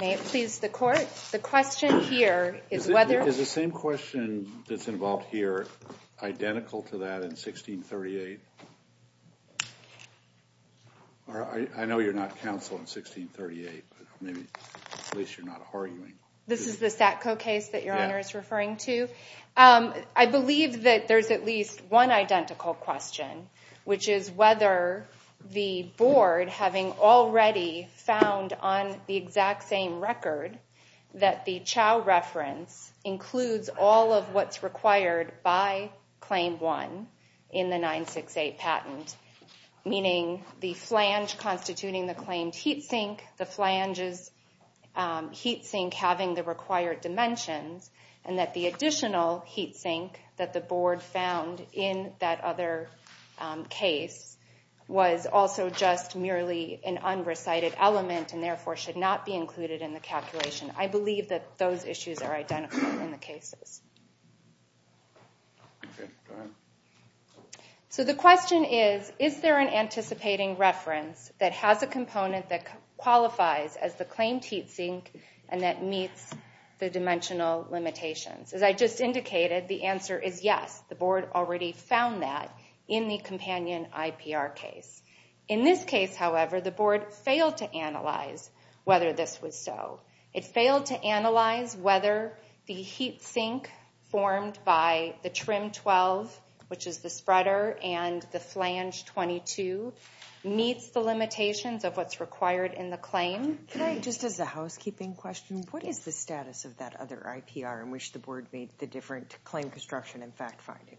May it please the Court, the question here is whether... Is the same question that's involved here identical to that in 1638? I know you're not counsel in 1638 but at least you're not arguing. This is the Satco case that your Honor is referring to? I believe that there's at least one identical question, which is whether the Board, having already found on the exact same record that the Chao reference includes all of what's required by Claim 1 in the 968 patent, meaning the flange constituting the claimed heat sink, the flange's heat sink having the required dimensions, and that the additional heat sink that the Board found in that other case was also just merely an unrecited element and therefore should not be included in the calculation. I believe that those issues are identical in the cases. So the question is, is there an anticipating reference that has a component that qualifies as the claimed heat sink and that meets the dimensional limitations? As I just indicated, the answer is yes, the Board already found that in the companion IPR case. In this case, however, the Board failed to analyze whether this was so. It failed to analyze whether the heat sink formed by the Trim 12, which is the spreader, and the Flange 22 meets the limitations of what's required in the claim. Just as a housekeeping question, what is the status of that other IPR in which the Board made the different claim construction and fact-finding?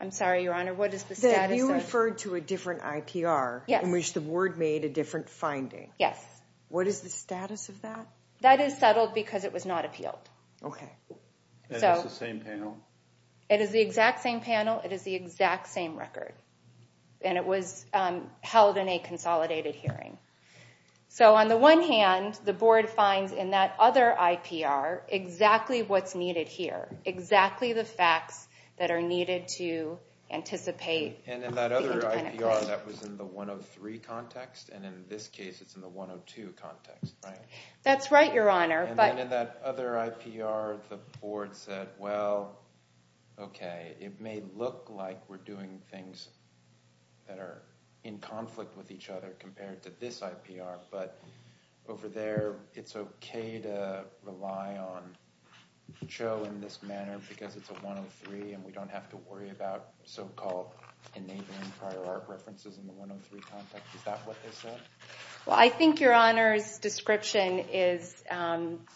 I'm sorry, Your Honor, what is the status of— You referred to a different IPR in which the Board made a different finding. Yes. What is the status of that? That is settled because it was not appealed. Okay. It is the same panel? It is the exact same record, and it was held in a consolidated hearing. So on the one hand, the Board finds in that other IPR exactly what's needed here, exactly the facts that are needed to anticipate— And in that other IPR, that was in the 103 context, and in this case, it's in the 102 context, right? That's right, Your Honor, but— It doesn't look like we're doing things that are in conflict with each other compared to this IPR, but over there, it's okay to rely on Cho in this manner because it's a 103, and we don't have to worry about so-called enabling prior art references in the 103 context. Is that what they said? Well, I think Your Honor's description is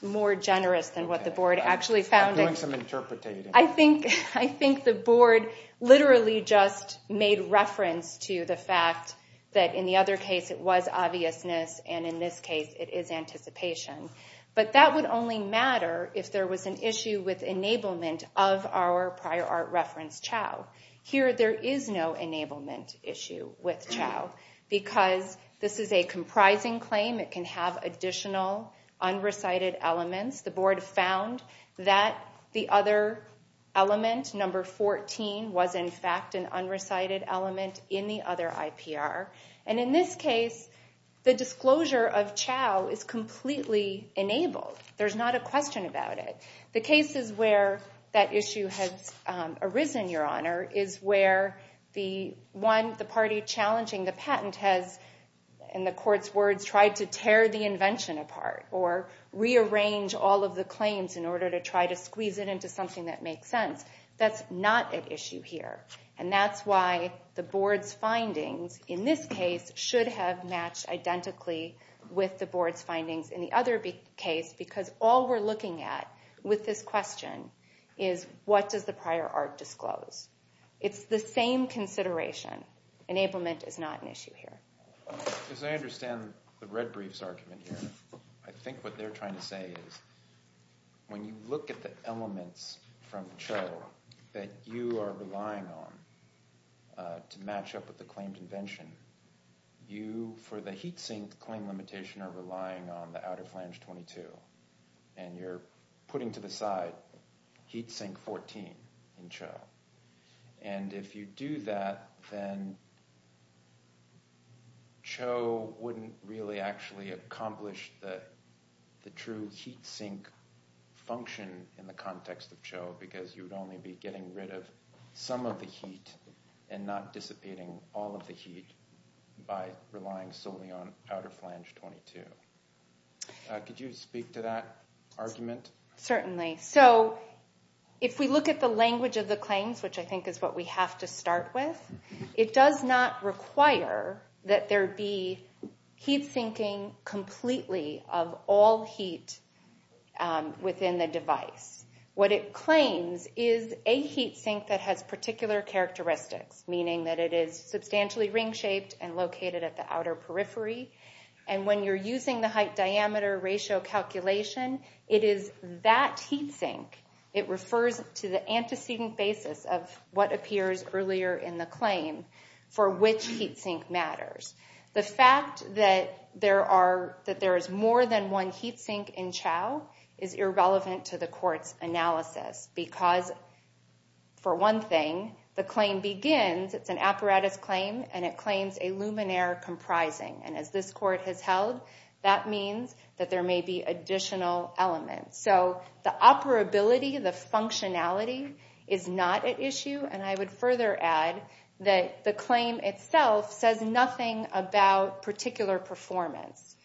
more generous than what the Board actually found in— I'm doing some interpreting. I think the Board literally just made reference to the fact that in the other case, it was obviousness, and in this case, it is anticipation. But that would only matter if there was an issue with enablement of our prior art reference Cho. Here, there is no enablement issue with Cho because this is a comprising claim. It can have additional unrecited elements. The Board found that the other element, number 14, was in fact an unrecited element in the other IPR, and in this case, the disclosure of Cho is completely enabled. There's not a question about it. The cases where that issue has arisen, Your Honor, is where the party challenging the patent has, in the Court's words, tried to tear the invention apart or rearrange all of the claims in order to try to squeeze it into something that makes sense. That's not an issue here, and that's why the Board's findings in this case should have matched identically with the Board's findings in the other case because all we're looking at with this question is, what does the prior art disclose? It's the same consideration. Enablement is not an issue here. As I understand the red brief's argument here, I think what they're trying to say is, when you look at the elements from Cho that you are relying on to match up with the claimed invention, you, for the heat sink claim limitation, are relying on the outer flange 22, and you're putting to the side heat sink 14 in Cho. And if you do that, then Cho wouldn't really actually accomplish the true heat sink function in the context of Cho because you would only be getting rid of some of the heat and not dissipating all of the heat by relying solely on outer flange 22. Could you speak to that argument? Certainly. So, if we look at the language of the claims, which I think is what we have to start with, it does not require that there be heat sinking completely of all heat within the device. What it claims is a heat sink that has particular characteristics, meaning that it is substantially ring-shaped and located at the outer periphery. And when you're using the height-diameter-ratio calculation, it is that heat sink. It refers to the antecedent basis of what appears earlier in the claim for which heat sink matters. The fact that there is more than one heat sink in Cho is irrelevant to the court's analysis because, for one thing, the claim begins, it's an apparatus claim, and it claims a luminaire comprising. And as this court has held, that means that there may be additional elements. So the operability, the functionality, is not at issue. And I would further add that the claim itself says nothing about particular performance,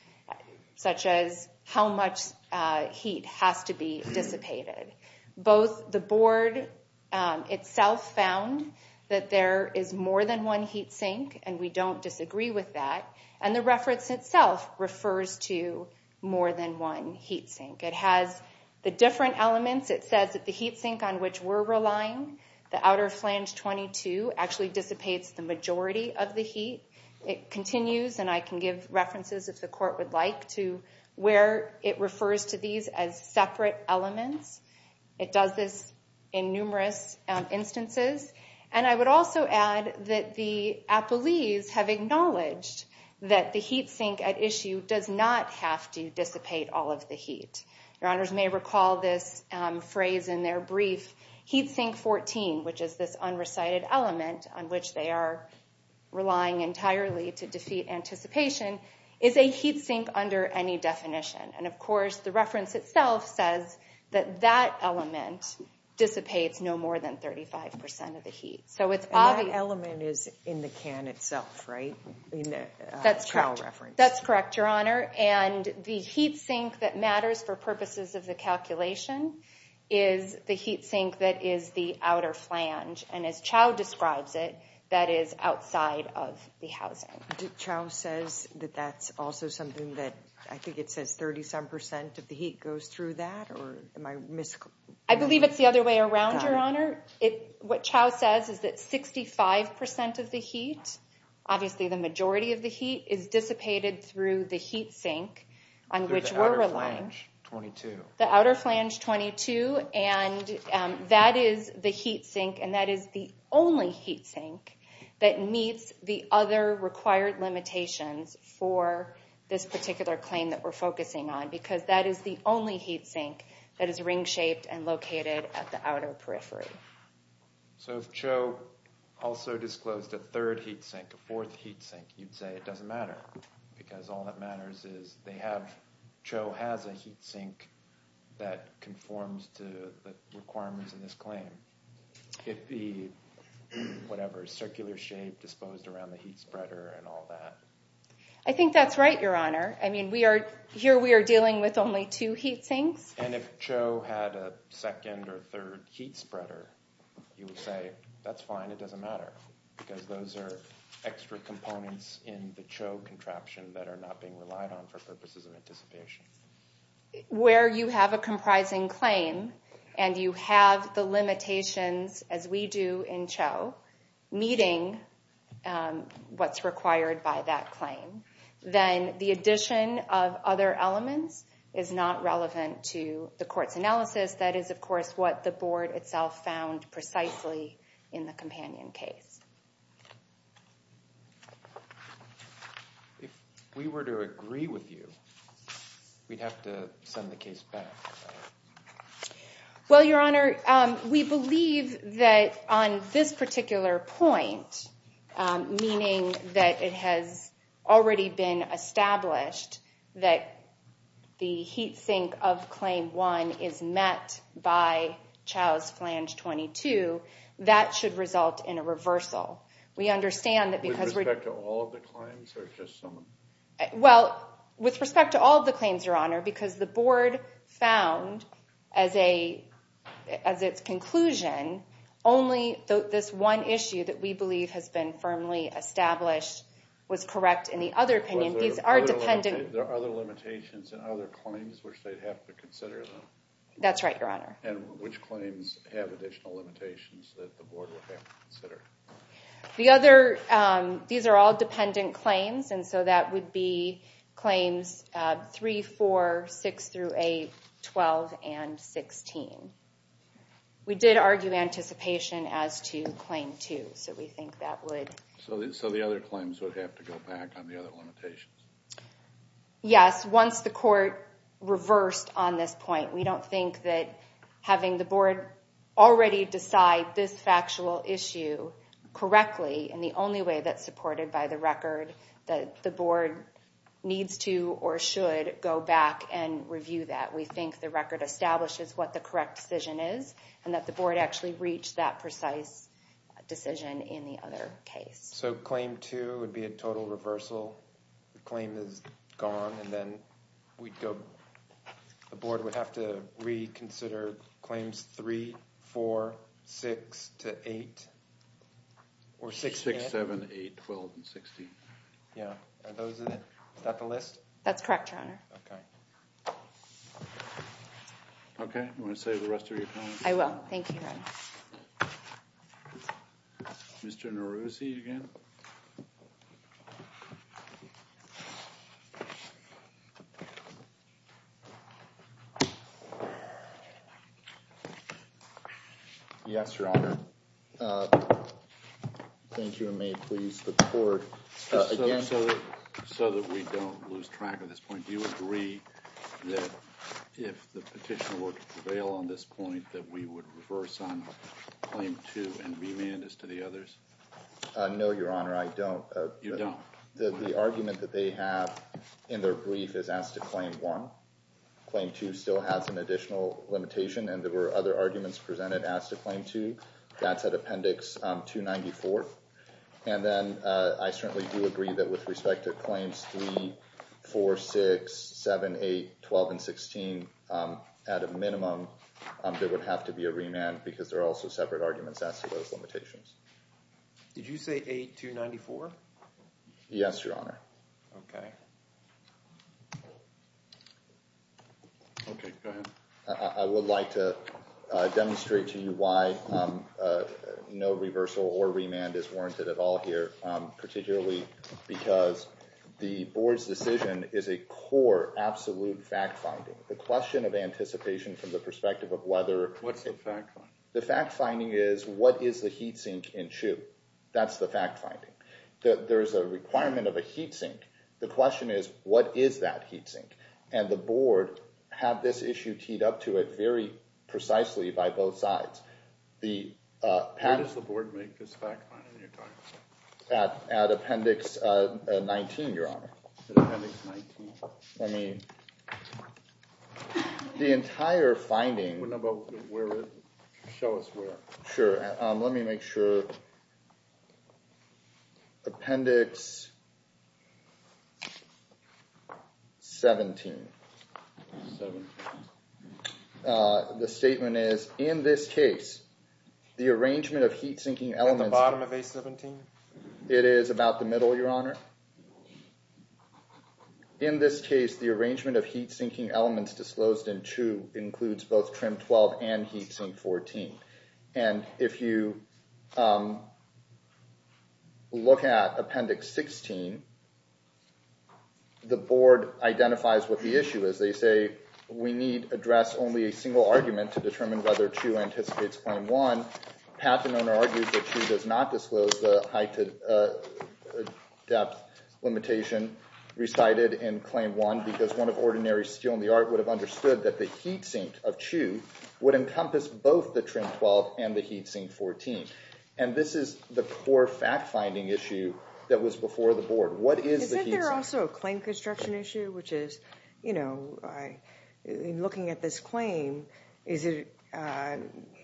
such as how much heat has to be dissipated. Both the board itself found that there is more than one heat sink, and we don't disagree with that, and the reference itself refers to more than one heat sink. It has the different elements. It says that the heat sink on which we're relying, the outer flange 22, actually dissipates the majority of the heat. It continues, and I can give references, if the court would like, to where it refers to these as separate elements. It does this in numerous instances. And I would also add that the appellees have acknowledged that the heat sink at issue does not have to dissipate all of the heat. Your honors may recall this phrase in their brief. Heat sink 14, which is this unrecited element on which they are relying entirely to defeat anticipation, is a heat sink under any definition. And of course, the reference itself says that that element dissipates no more than 35% of the heat. And that element is in the can itself, right? That's correct. That's correct, your honor. And the heat sink that matters for purposes of the calculation is the heat sink that is the outer flange. And as Chau describes it, that is outside of the housing. Chau says that that's also something that, I think it says 37% of the heat goes through that, or am I mis... I believe it's the other way around, your honor. What Chau says is that 65% of the heat, obviously the majority of the heat, is dissipated through the heat sink on which we're relying. Through the outer flange 22. The outer flange 22. And that is the heat sink, and that is the only heat sink that meets the other required limitations for this particular claim that we're focusing on. Because that is the only heat sink that is ring-shaped and located at the outer periphery. So if Chau also disclosed a third heat sink, a fourth heat sink, you'd say it doesn't matter. Because all that matters is they have, Chau has a heat sink that conforms to the requirements of this claim. If the, whatever, circular shape disposed around the heat spreader and all that. I think that's right, your honor. I mean, we are, here we are dealing with only two heat sinks. And if Chau had a second or third heat spreader, you would say, that's fine, it doesn't matter. Because those are extra components in the Chau contraption that are not being relied on for purposes of anticipation. Where you have a comprising claim, and you have the limitations, as we do in Chau, meeting what's required by that claim. Then the addition of other elements is not relevant to the court's analysis. That is, of course, what the board itself found precisely in the companion case. If we were to agree with you, we'd have to send the case back. Well, your honor, we believe that on this particular point, meaning that it has already been established, that the heat sink of claim one is met by Chau's flange 22, that should result in a reversal. We understand that because... With respect to all of the claims, or just some of them? Well, with respect to all of the claims, your honor, because the board found, as its conclusion, only this one issue that we believe has been firmly established was correct in the other opinion. There are other limitations and other claims which they'd have to consider? That's right, your honor. And which claims have additional limitations that the board would have to consider? These are all dependent claims, and so that would be claims 3, 4, 6 through 8, 12, and 16. We did argue anticipation as to claim two, so we think that would... So the other claims would have to go back on the other limitations? Yes, once the court reversed on this point. We don't think that having the board already decide this factual issue correctly, and the only way that's supported by the record, that the board needs to or should go back and review that. We think the record establishes what the correct decision is, and that the board actually reached that precise decision in the other case. So claim two would be a total reversal? The claim is gone, and then the board would have to reconsider claims 3, 4, 6 to 8? 6, 7, 8, 12, and 16. Are those it? Is that the list? That's correct, your honor. Okay, you want to save the rest of your time? I will. Thank you, your honor. Mr. Neruzzi again? Yes, your honor. Thank you, and may it please the court, again... Just so that we don't lose track of this point, do you agree that if the petition were to prevail on this point, that we would reverse on claim two and remand this to the others? No, your honor, I don't. You don't? The argument that they have in their brief is as to claim one. Claim two still has an additional limitation, and there were other arguments presented as to claim two. That's at appendix 294. And then I certainly do agree that with respect to claims 3, 4, 6, 7, 8, 12, and 16, at a minimum, there would have to be a remand because there are also separate arguments as to those limitations. Did you say 8294? Yes, your honor. Okay. Okay, go ahead. I would like to demonstrate to you why no reversal or remand is warranted at all here, particularly because the board's decision is a core, absolute fact finding. The question of anticipation from the perspective of whether... What's the fact finding? The fact finding is, what is the heat sink in Chu? That's the fact finding. There is a requirement of a heat sink. The question is, what is that heat sink? And the board had this issue teed up to it very precisely by both sides. Where does the board make this fact finding you're talking about? At appendix 19, your honor. At appendix 19? I mean, the entire finding... What about where is it? Show us where. Sure, let me make sure. Appendix 17. The statement is, in this case, the arrangement of heat sinking elements... At the bottom of A17? It is about the middle, your honor. In this case, the arrangement of heat sinking elements disclosed in Chu includes both trim 12 and heat sink 14. And if you look at appendix 16, the board identifies what the issue is. They say, we need to address only a single argument to determine whether Chu anticipates claim one. Pat, the owner, argues that Chu does not disclose the height and depth limitation recited in claim one because one of ordinary steel in the art would have understood that the heat sink of Chu would encompass both the trim 12 and the heat sink 14. And this is the core fact finding issue that was before the board. What is the heat sink? Isn't there also a claim construction issue? Which is, you know, in looking at this claim, is it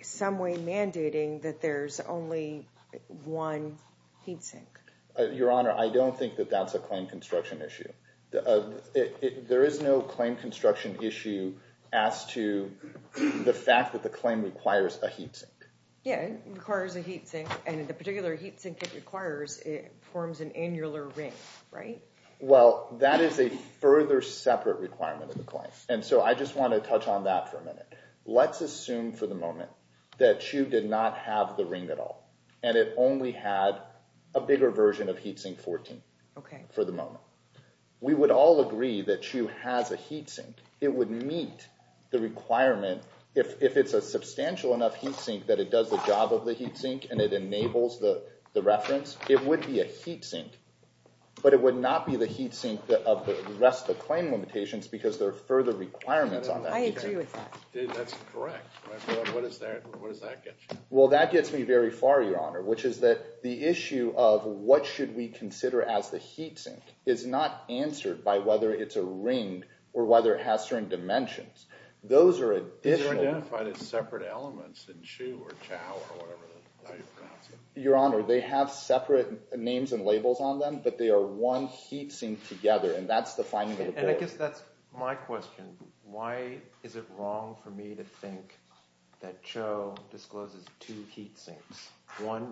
some way mandating that there's only one heat sink? Your honor, I don't think that that's a claim construction issue. There is no claim construction issue as to the fact that the claim requires a heat sink. Yeah, it requires a heat sink. And the particular heat sink it requires, it forms an annular ring, right? Well, that is a further separate requirement of the claim. And so I just want to touch on that for a minute. Let's assume for the moment that Chu did not have the ring at all. And it only had a bigger version of heat sink 14 for the moment. We would all agree that Chu has a heat sink. It would meet the requirement. If it's a substantial enough heat sink that it does the job of the heat sink and it enables the reference, it would be a heat sink. But it would not be the heat sink of the rest of the claim limitations because there are further requirements on that. I agree with that. That's correct. What does that get you? Well, that gets me very far, your honor, which is that the issue of what should we consider as the heat sink is not answered by whether it's a ring or whether it has certain dimensions. Those are additional. These are identified as separate elements in Chu or Chao or whatever. Your honor, they have separate names and labels on them, but they are one heat sink together, and that's the finding of the claim. And I guess that's my question. One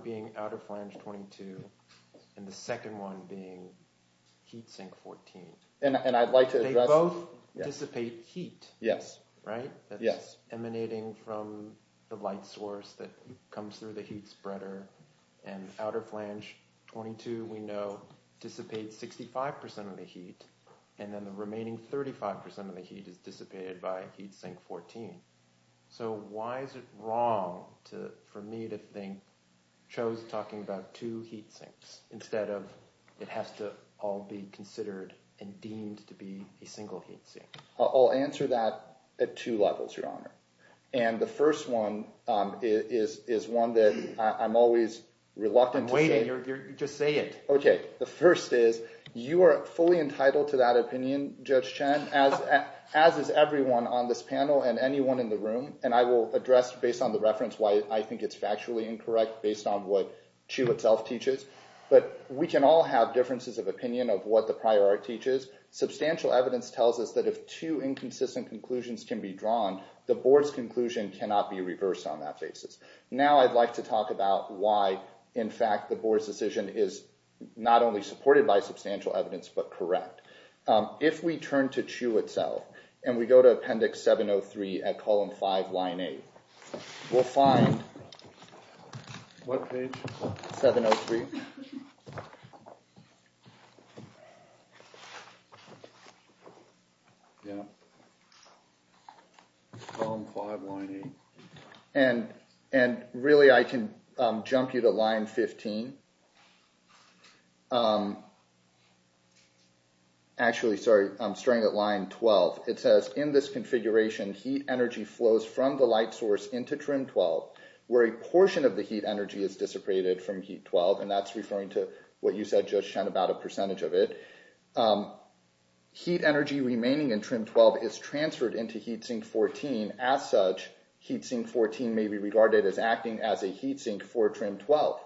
being outer flange 22 and the second one being heat sink 14. And I'd like to address – They both dissipate heat, right? That's emanating from the light source that comes through the heat spreader. And outer flange 22 we know dissipates 65% of the heat, and then the remaining 35% of the heat is dissipated by heat sink 14. So why is it wrong for me to think Chu is talking about two heat sinks instead of it has to all be considered and deemed to be a single heat sink? I'll answer that at two levels, your honor. And the first one is one that I'm always reluctant to say. I'm waiting. Just say it. Okay. The first is you are fully entitled to that opinion, Judge Chen, as is everyone on this panel and anyone in the room, and I will address based on the reference why I think it's factually incorrect based on what Chu itself teaches. But we can all have differences of opinion of what the prior art teaches. Substantial evidence tells us that if two inconsistent conclusions can be drawn, the board's conclusion cannot be reversed on that basis. Now I'd like to talk about why, in fact, the board's decision is not only supported by substantial evidence but correct. If we turn to Chu itself and we go to Appendix 703 at column 5, line 8, we'll find what page? 703. Yeah. Column 5, line 8. And really I can jump you to line 15. Actually, sorry, I'm starting at line 12. It says, in this configuration, heat energy flows from the light source into trim 12, where a portion of the heat energy is dissipated from heat 12, and that's referring to what you said, Judge Chen, about a percentage of it. Heat energy remaining in trim 12 is transferred into heat sink 14. As such, heat sink 14 may be regarded as acting as a heat sink for trim 12.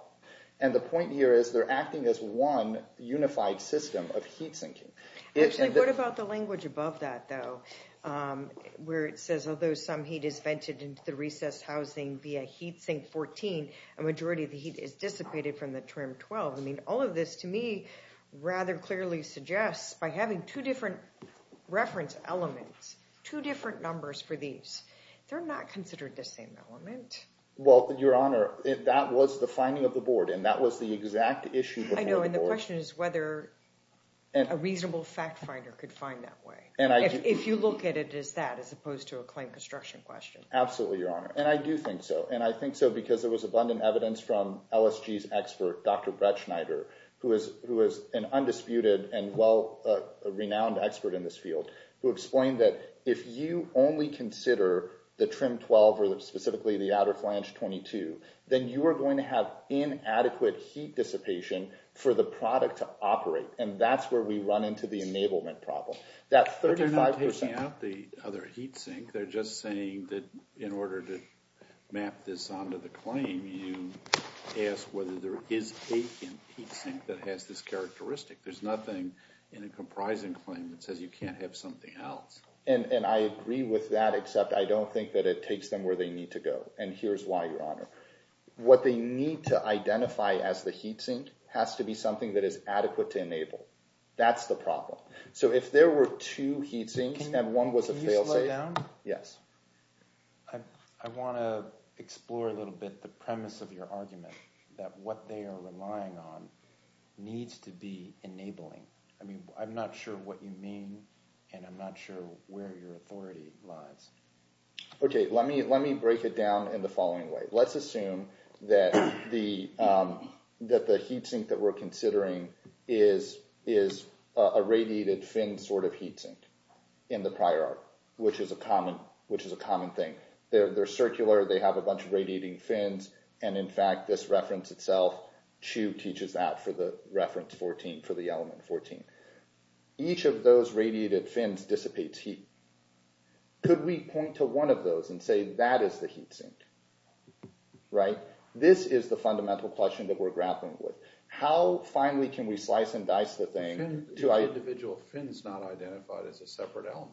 And the point here is they're acting as one unified system of heat sinking. Actually, what about the language above that, though, where it says although some heat is vented into the recessed housing via heat sink 14, a majority of the heat is dissipated from the trim 12? I mean, all of this, to me, rather clearly suggests by having two different reference elements, two different numbers for these, they're not considered the same element. Well, Your Honor, that was the finding of the board, and that was the exact issue before the board. I know, and the question is whether a reasonable fact finder could find that way, if you look at it as that as opposed to a claim construction question. Absolutely, Your Honor, and I do think so. And I think so because there was abundant evidence from LSG's expert, Dr. Brett Schneider, who is an undisputed and well-renowned expert in this field, who explained that if you only consider the trim 12 or specifically the outer flange 22, then you are going to have inadequate heat dissipation for the product to operate, and that's where we run into the enablement problem. But they're not taking out the other heat sink. They're just saying that in order to map this onto the claim, you ask whether there is a heat sink that has this characteristic. There's nothing in a comprising claim that says you can't have something else. And I agree with that, except I don't think that it takes them where they need to go, and here's why, Your Honor. What they need to identify as the heat sink has to be something that is adequate to enable. That's the problem. So if there were two heat sinks and one was a failsafe— Can you slow down? Yes. I want to explore a little bit the premise of your argument that what they are relying on needs to be enabling. I mean, I'm not sure what you mean, and I'm not sure where your authority lies. Okay, let me break it down in the following way. Let's assume that the heat sink that we're considering is a radiated fin sort of heat sink in the prior art, which is a common thing. They're circular, they have a bunch of radiating fins, and in fact this reference itself, Chu teaches that for the reference 14, for the element 14. Each of those radiated fins dissipates heat. Could we point to one of those and say that is the heat sink? This is the fundamental question that we're grappling with. How finely can we slice and dice the thing to— Each individual fin is not identified as a separate element.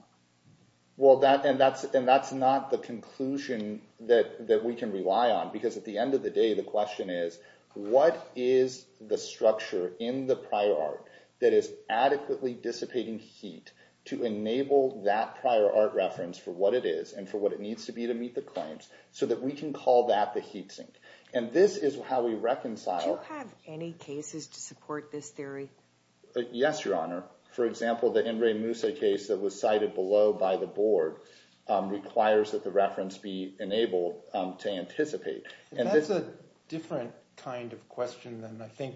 And that's not the conclusion that we can rely on, because at the end of the day the question is what is the structure in the prior art that is adequately dissipating heat to enable that prior art reference for what it is and for what it needs to be to meet the claims so that we can call that the heat sink? And this is how we reconcile— Do you have any cases to support this theory? Yes, Your Honor. For example, the Henry Moussa case that was cited below by the board requires that the reference be enabled to anticipate. That's a different kind of question than I think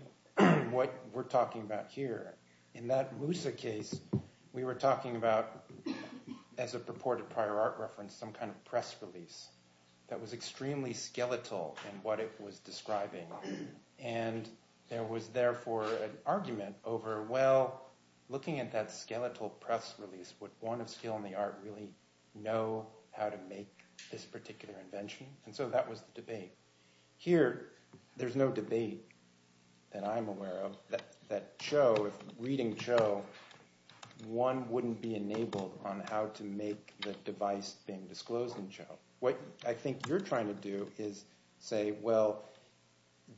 what we're talking about here. In that Moussa case, we were talking about, as a purported prior art reference, some kind of press release that was extremely skeletal in what it was describing. And there was therefore an argument over, well, looking at that skeletal press release, would one of skill and the art really know how to make this particular invention? And so that was the debate. Here, there's no debate that I'm aware of that Cho, if reading Cho, one wouldn't be enabled on how to make the device being disclosed in Cho. What I think you're trying to do is say, well,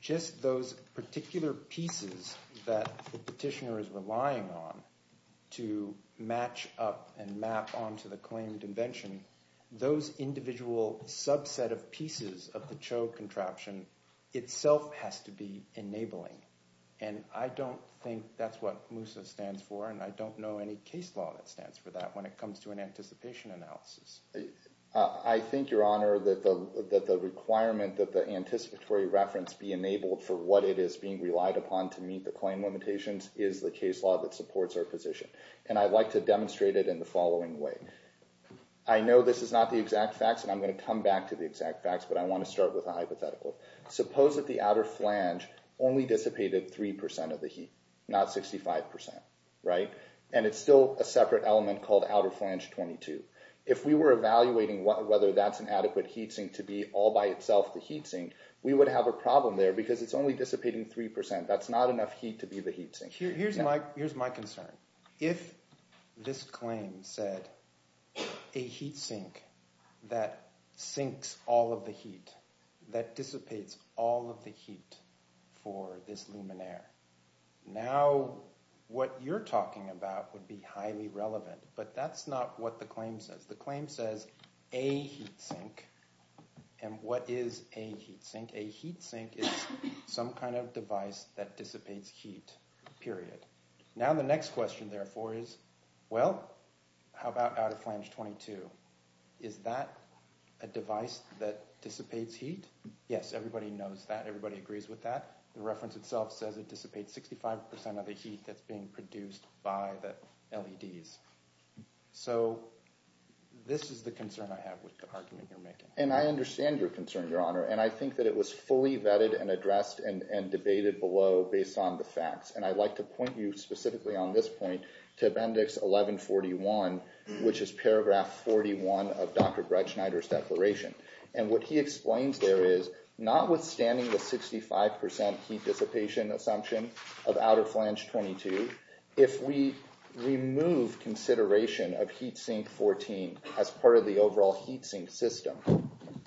just those particular pieces that the petitioner is relying on to match up and map onto the claimed invention, those individual subset of pieces of the Cho contraption itself has to be enabling. And I don't think that's what Moussa stands for, and I don't know any case law that stands for that when it comes to an anticipation analysis. I think, Your Honor, that the requirement that the anticipatory reference be enabled for what it is being relied upon to meet the claim limitations is the case law that supports our position. And I'd like to demonstrate it in the following way. I know this is not the exact facts, and I'm going to come back to the exact facts, but I want to start with a hypothetical. Suppose that the outer flange only dissipated 3% of the heat, not 65%, right? And it's still a separate element called outer flange 22. If we were evaluating whether that's an adequate heat sink to be all by itself the heat sink, we would have a problem there because it's only dissipating 3%. That's not enough heat to be the heat sink. Here's my concern. If this claim said a heat sink that sinks all of the heat, that dissipates all of the heat for this luminaire, now what you're talking about would be highly relevant, but that's not what the claim says. The claim says a heat sink. And what is a heat sink? A heat sink is some kind of device that dissipates heat, period. Now the next question, therefore, is, well, how about outer flange 22? Is that a device that dissipates heat? Yes, everybody knows that. Everybody agrees with that. The reference itself says it dissipates 65% of the heat that's being produced by the LEDs. So this is the concern I have with the argument you're making. And I understand your concern, Your Honor, and I think that it was fully vetted and addressed and debated below based on the facts. And I'd like to point you specifically on this point to Appendix 1141, which is paragraph 41 of Dr. Bretschneider's declaration. And what he explains there is, notwithstanding the 65% heat dissipation assumption of outer flange 22, if we remove consideration of heat sink 14 as part of the overall heat sink system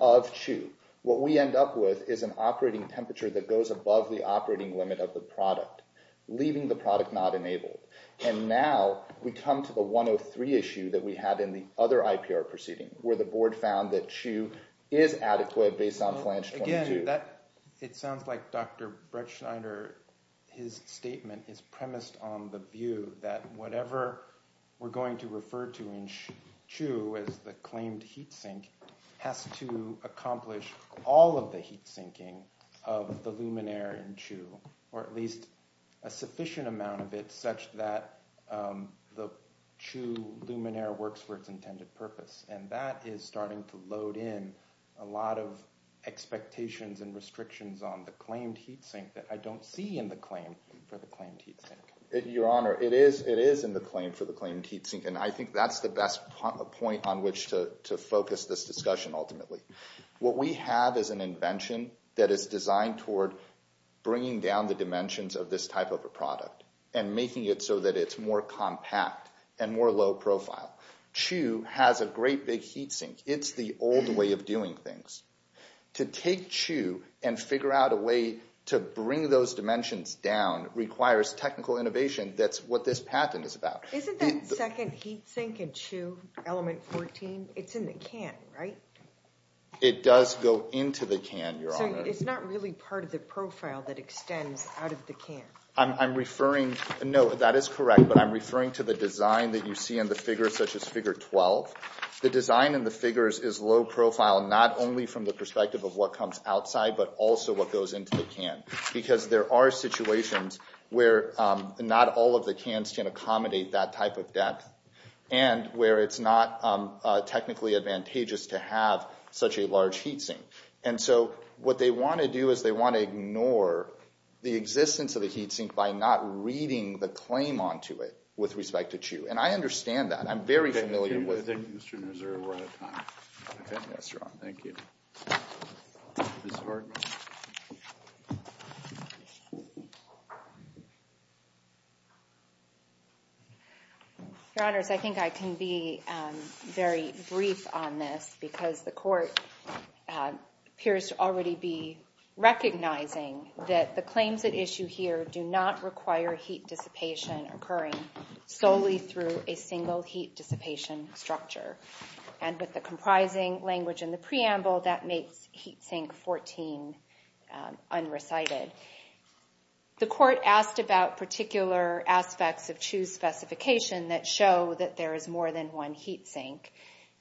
of CHU, what we end up with is an operating temperature that goes above the operating limit of the product, leaving the product not enabled. And now we come to the 103 issue that we had in the other IPR proceeding, where the board found that CHU is adequate based on flange 22. Again, it sounds like Dr. Bretschneider, his statement, is premised on the view that whatever we're going to refer to in CHU as the claimed heat sink has to accomplish all of the heat sinking of the luminaire in CHU, or at least a sufficient amount of it such that the CHU luminaire works for its intended purpose. And that is starting to load in a lot of expectations and restrictions on the claimed heat sink that I don't see in the claim for the claimed heat sink. Your Honor, it is in the claim for the claimed heat sink, and I think that's the best point on which to focus this discussion ultimately. What we have is an invention that is designed toward bringing down the dimensions of this type of a product and making it so that it's more compact and more low profile. CHU has a great big heat sink. It's the old way of doing things. To take CHU and figure out a way to bring those dimensions down requires technical innovation. That's what this patent is about. Isn't that second heat sink in CHU, element 14, it's in the can, right? It does go into the can, Your Honor. So it's not really part of the profile that extends out of the can? I'm referring, no, that is correct, but I'm referring to the design that you see in the figure such as figure 12. The design in the figures is low profile, not only from the perspective of what comes outside, but also what goes into the can. Because there are situations where not all of the cans can accommodate that type of depth and where it's not technically advantageous to have such a large heat sink. And so what they want to do is they want to ignore the existence of the heat sink by not reading the claim onto it with respect to CHU. And I understand that. I'm very familiar with it. Thank you. I think Mr. Nusser, we're out of time. Yes, Your Honor. Thank you. Ms. Hartman. Thank you. Your Honors, I think I can be very brief on this because the court appears to already be recognizing that the claims at issue here do not require heat dissipation occurring solely through a single heat dissipation structure. And with the comprising language in the preamble, that makes heat sink 14 unrecited. The court asked about particular aspects of CHU's specification that show that there is more than one heat sink.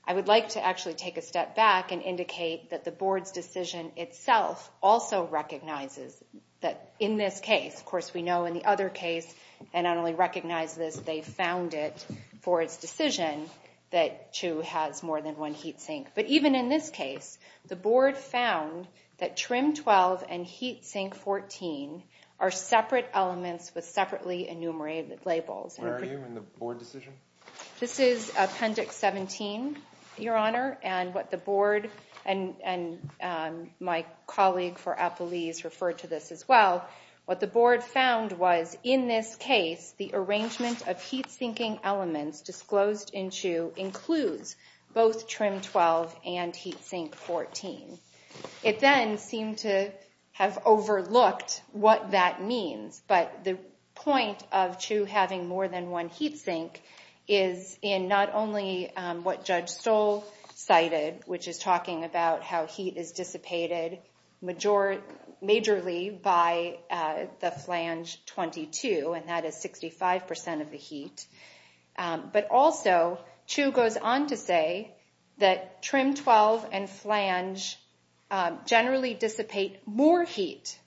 I would like to actually take a step back and indicate that the board's decision itself also recognizes that in this case, of course we know in the other case, and I only recognize this, they found it for its decision that CHU has more than one heat sink. But even in this case, the board found that trim 12 and heat sink 14 are separate elements with separately enumerated labels. Where are you in the board decision? This is appendix 17, Your Honor. And what the board and my colleague for Appalese referred to this as well. What the board found was in this case, the arrangement of heat sinking elements disclosed in CHU includes both trim 12 and heat sink 14. It then seemed to have overlooked what that means, but the point of CHU having more than one heat sink is in not only what Judge Stoll cited, which is talking about how heat is dissipated majorly by the flange 22, and that is 65% of the heat, but also CHU goes on to say that trim 12 and flange generally dissipate more heat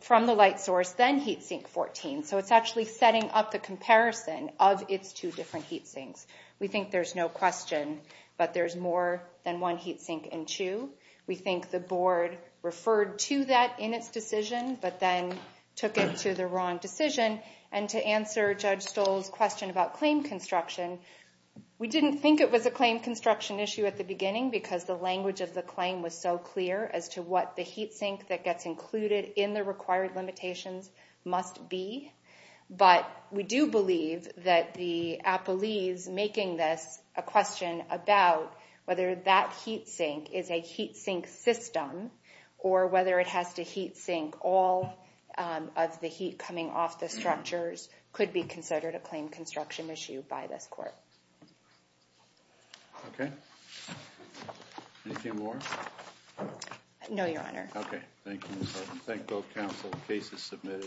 from the light source than heat sink 14, so it's actually setting up the comparison of its two different heat sinks. We think there's no question, but there's more than one heat sink in CHU. We think the board referred to that in its decision, but then took it to the wrong decision. And to answer Judge Stoll's question about claim construction, we didn't think it was a claim construction issue at the beginning because the language of the claim was so clear as to what the heat sink that gets included in the required limitations must be. But we do believe that the appellees making this a question about whether that heat sink is a heat sink system or whether it has to heat sink all of the heat coming off the structures could be considered a claim construction issue by this court. Okay. Anything more? No, Your Honor. Okay. Thank you. Thank both counsel. The case is submitted.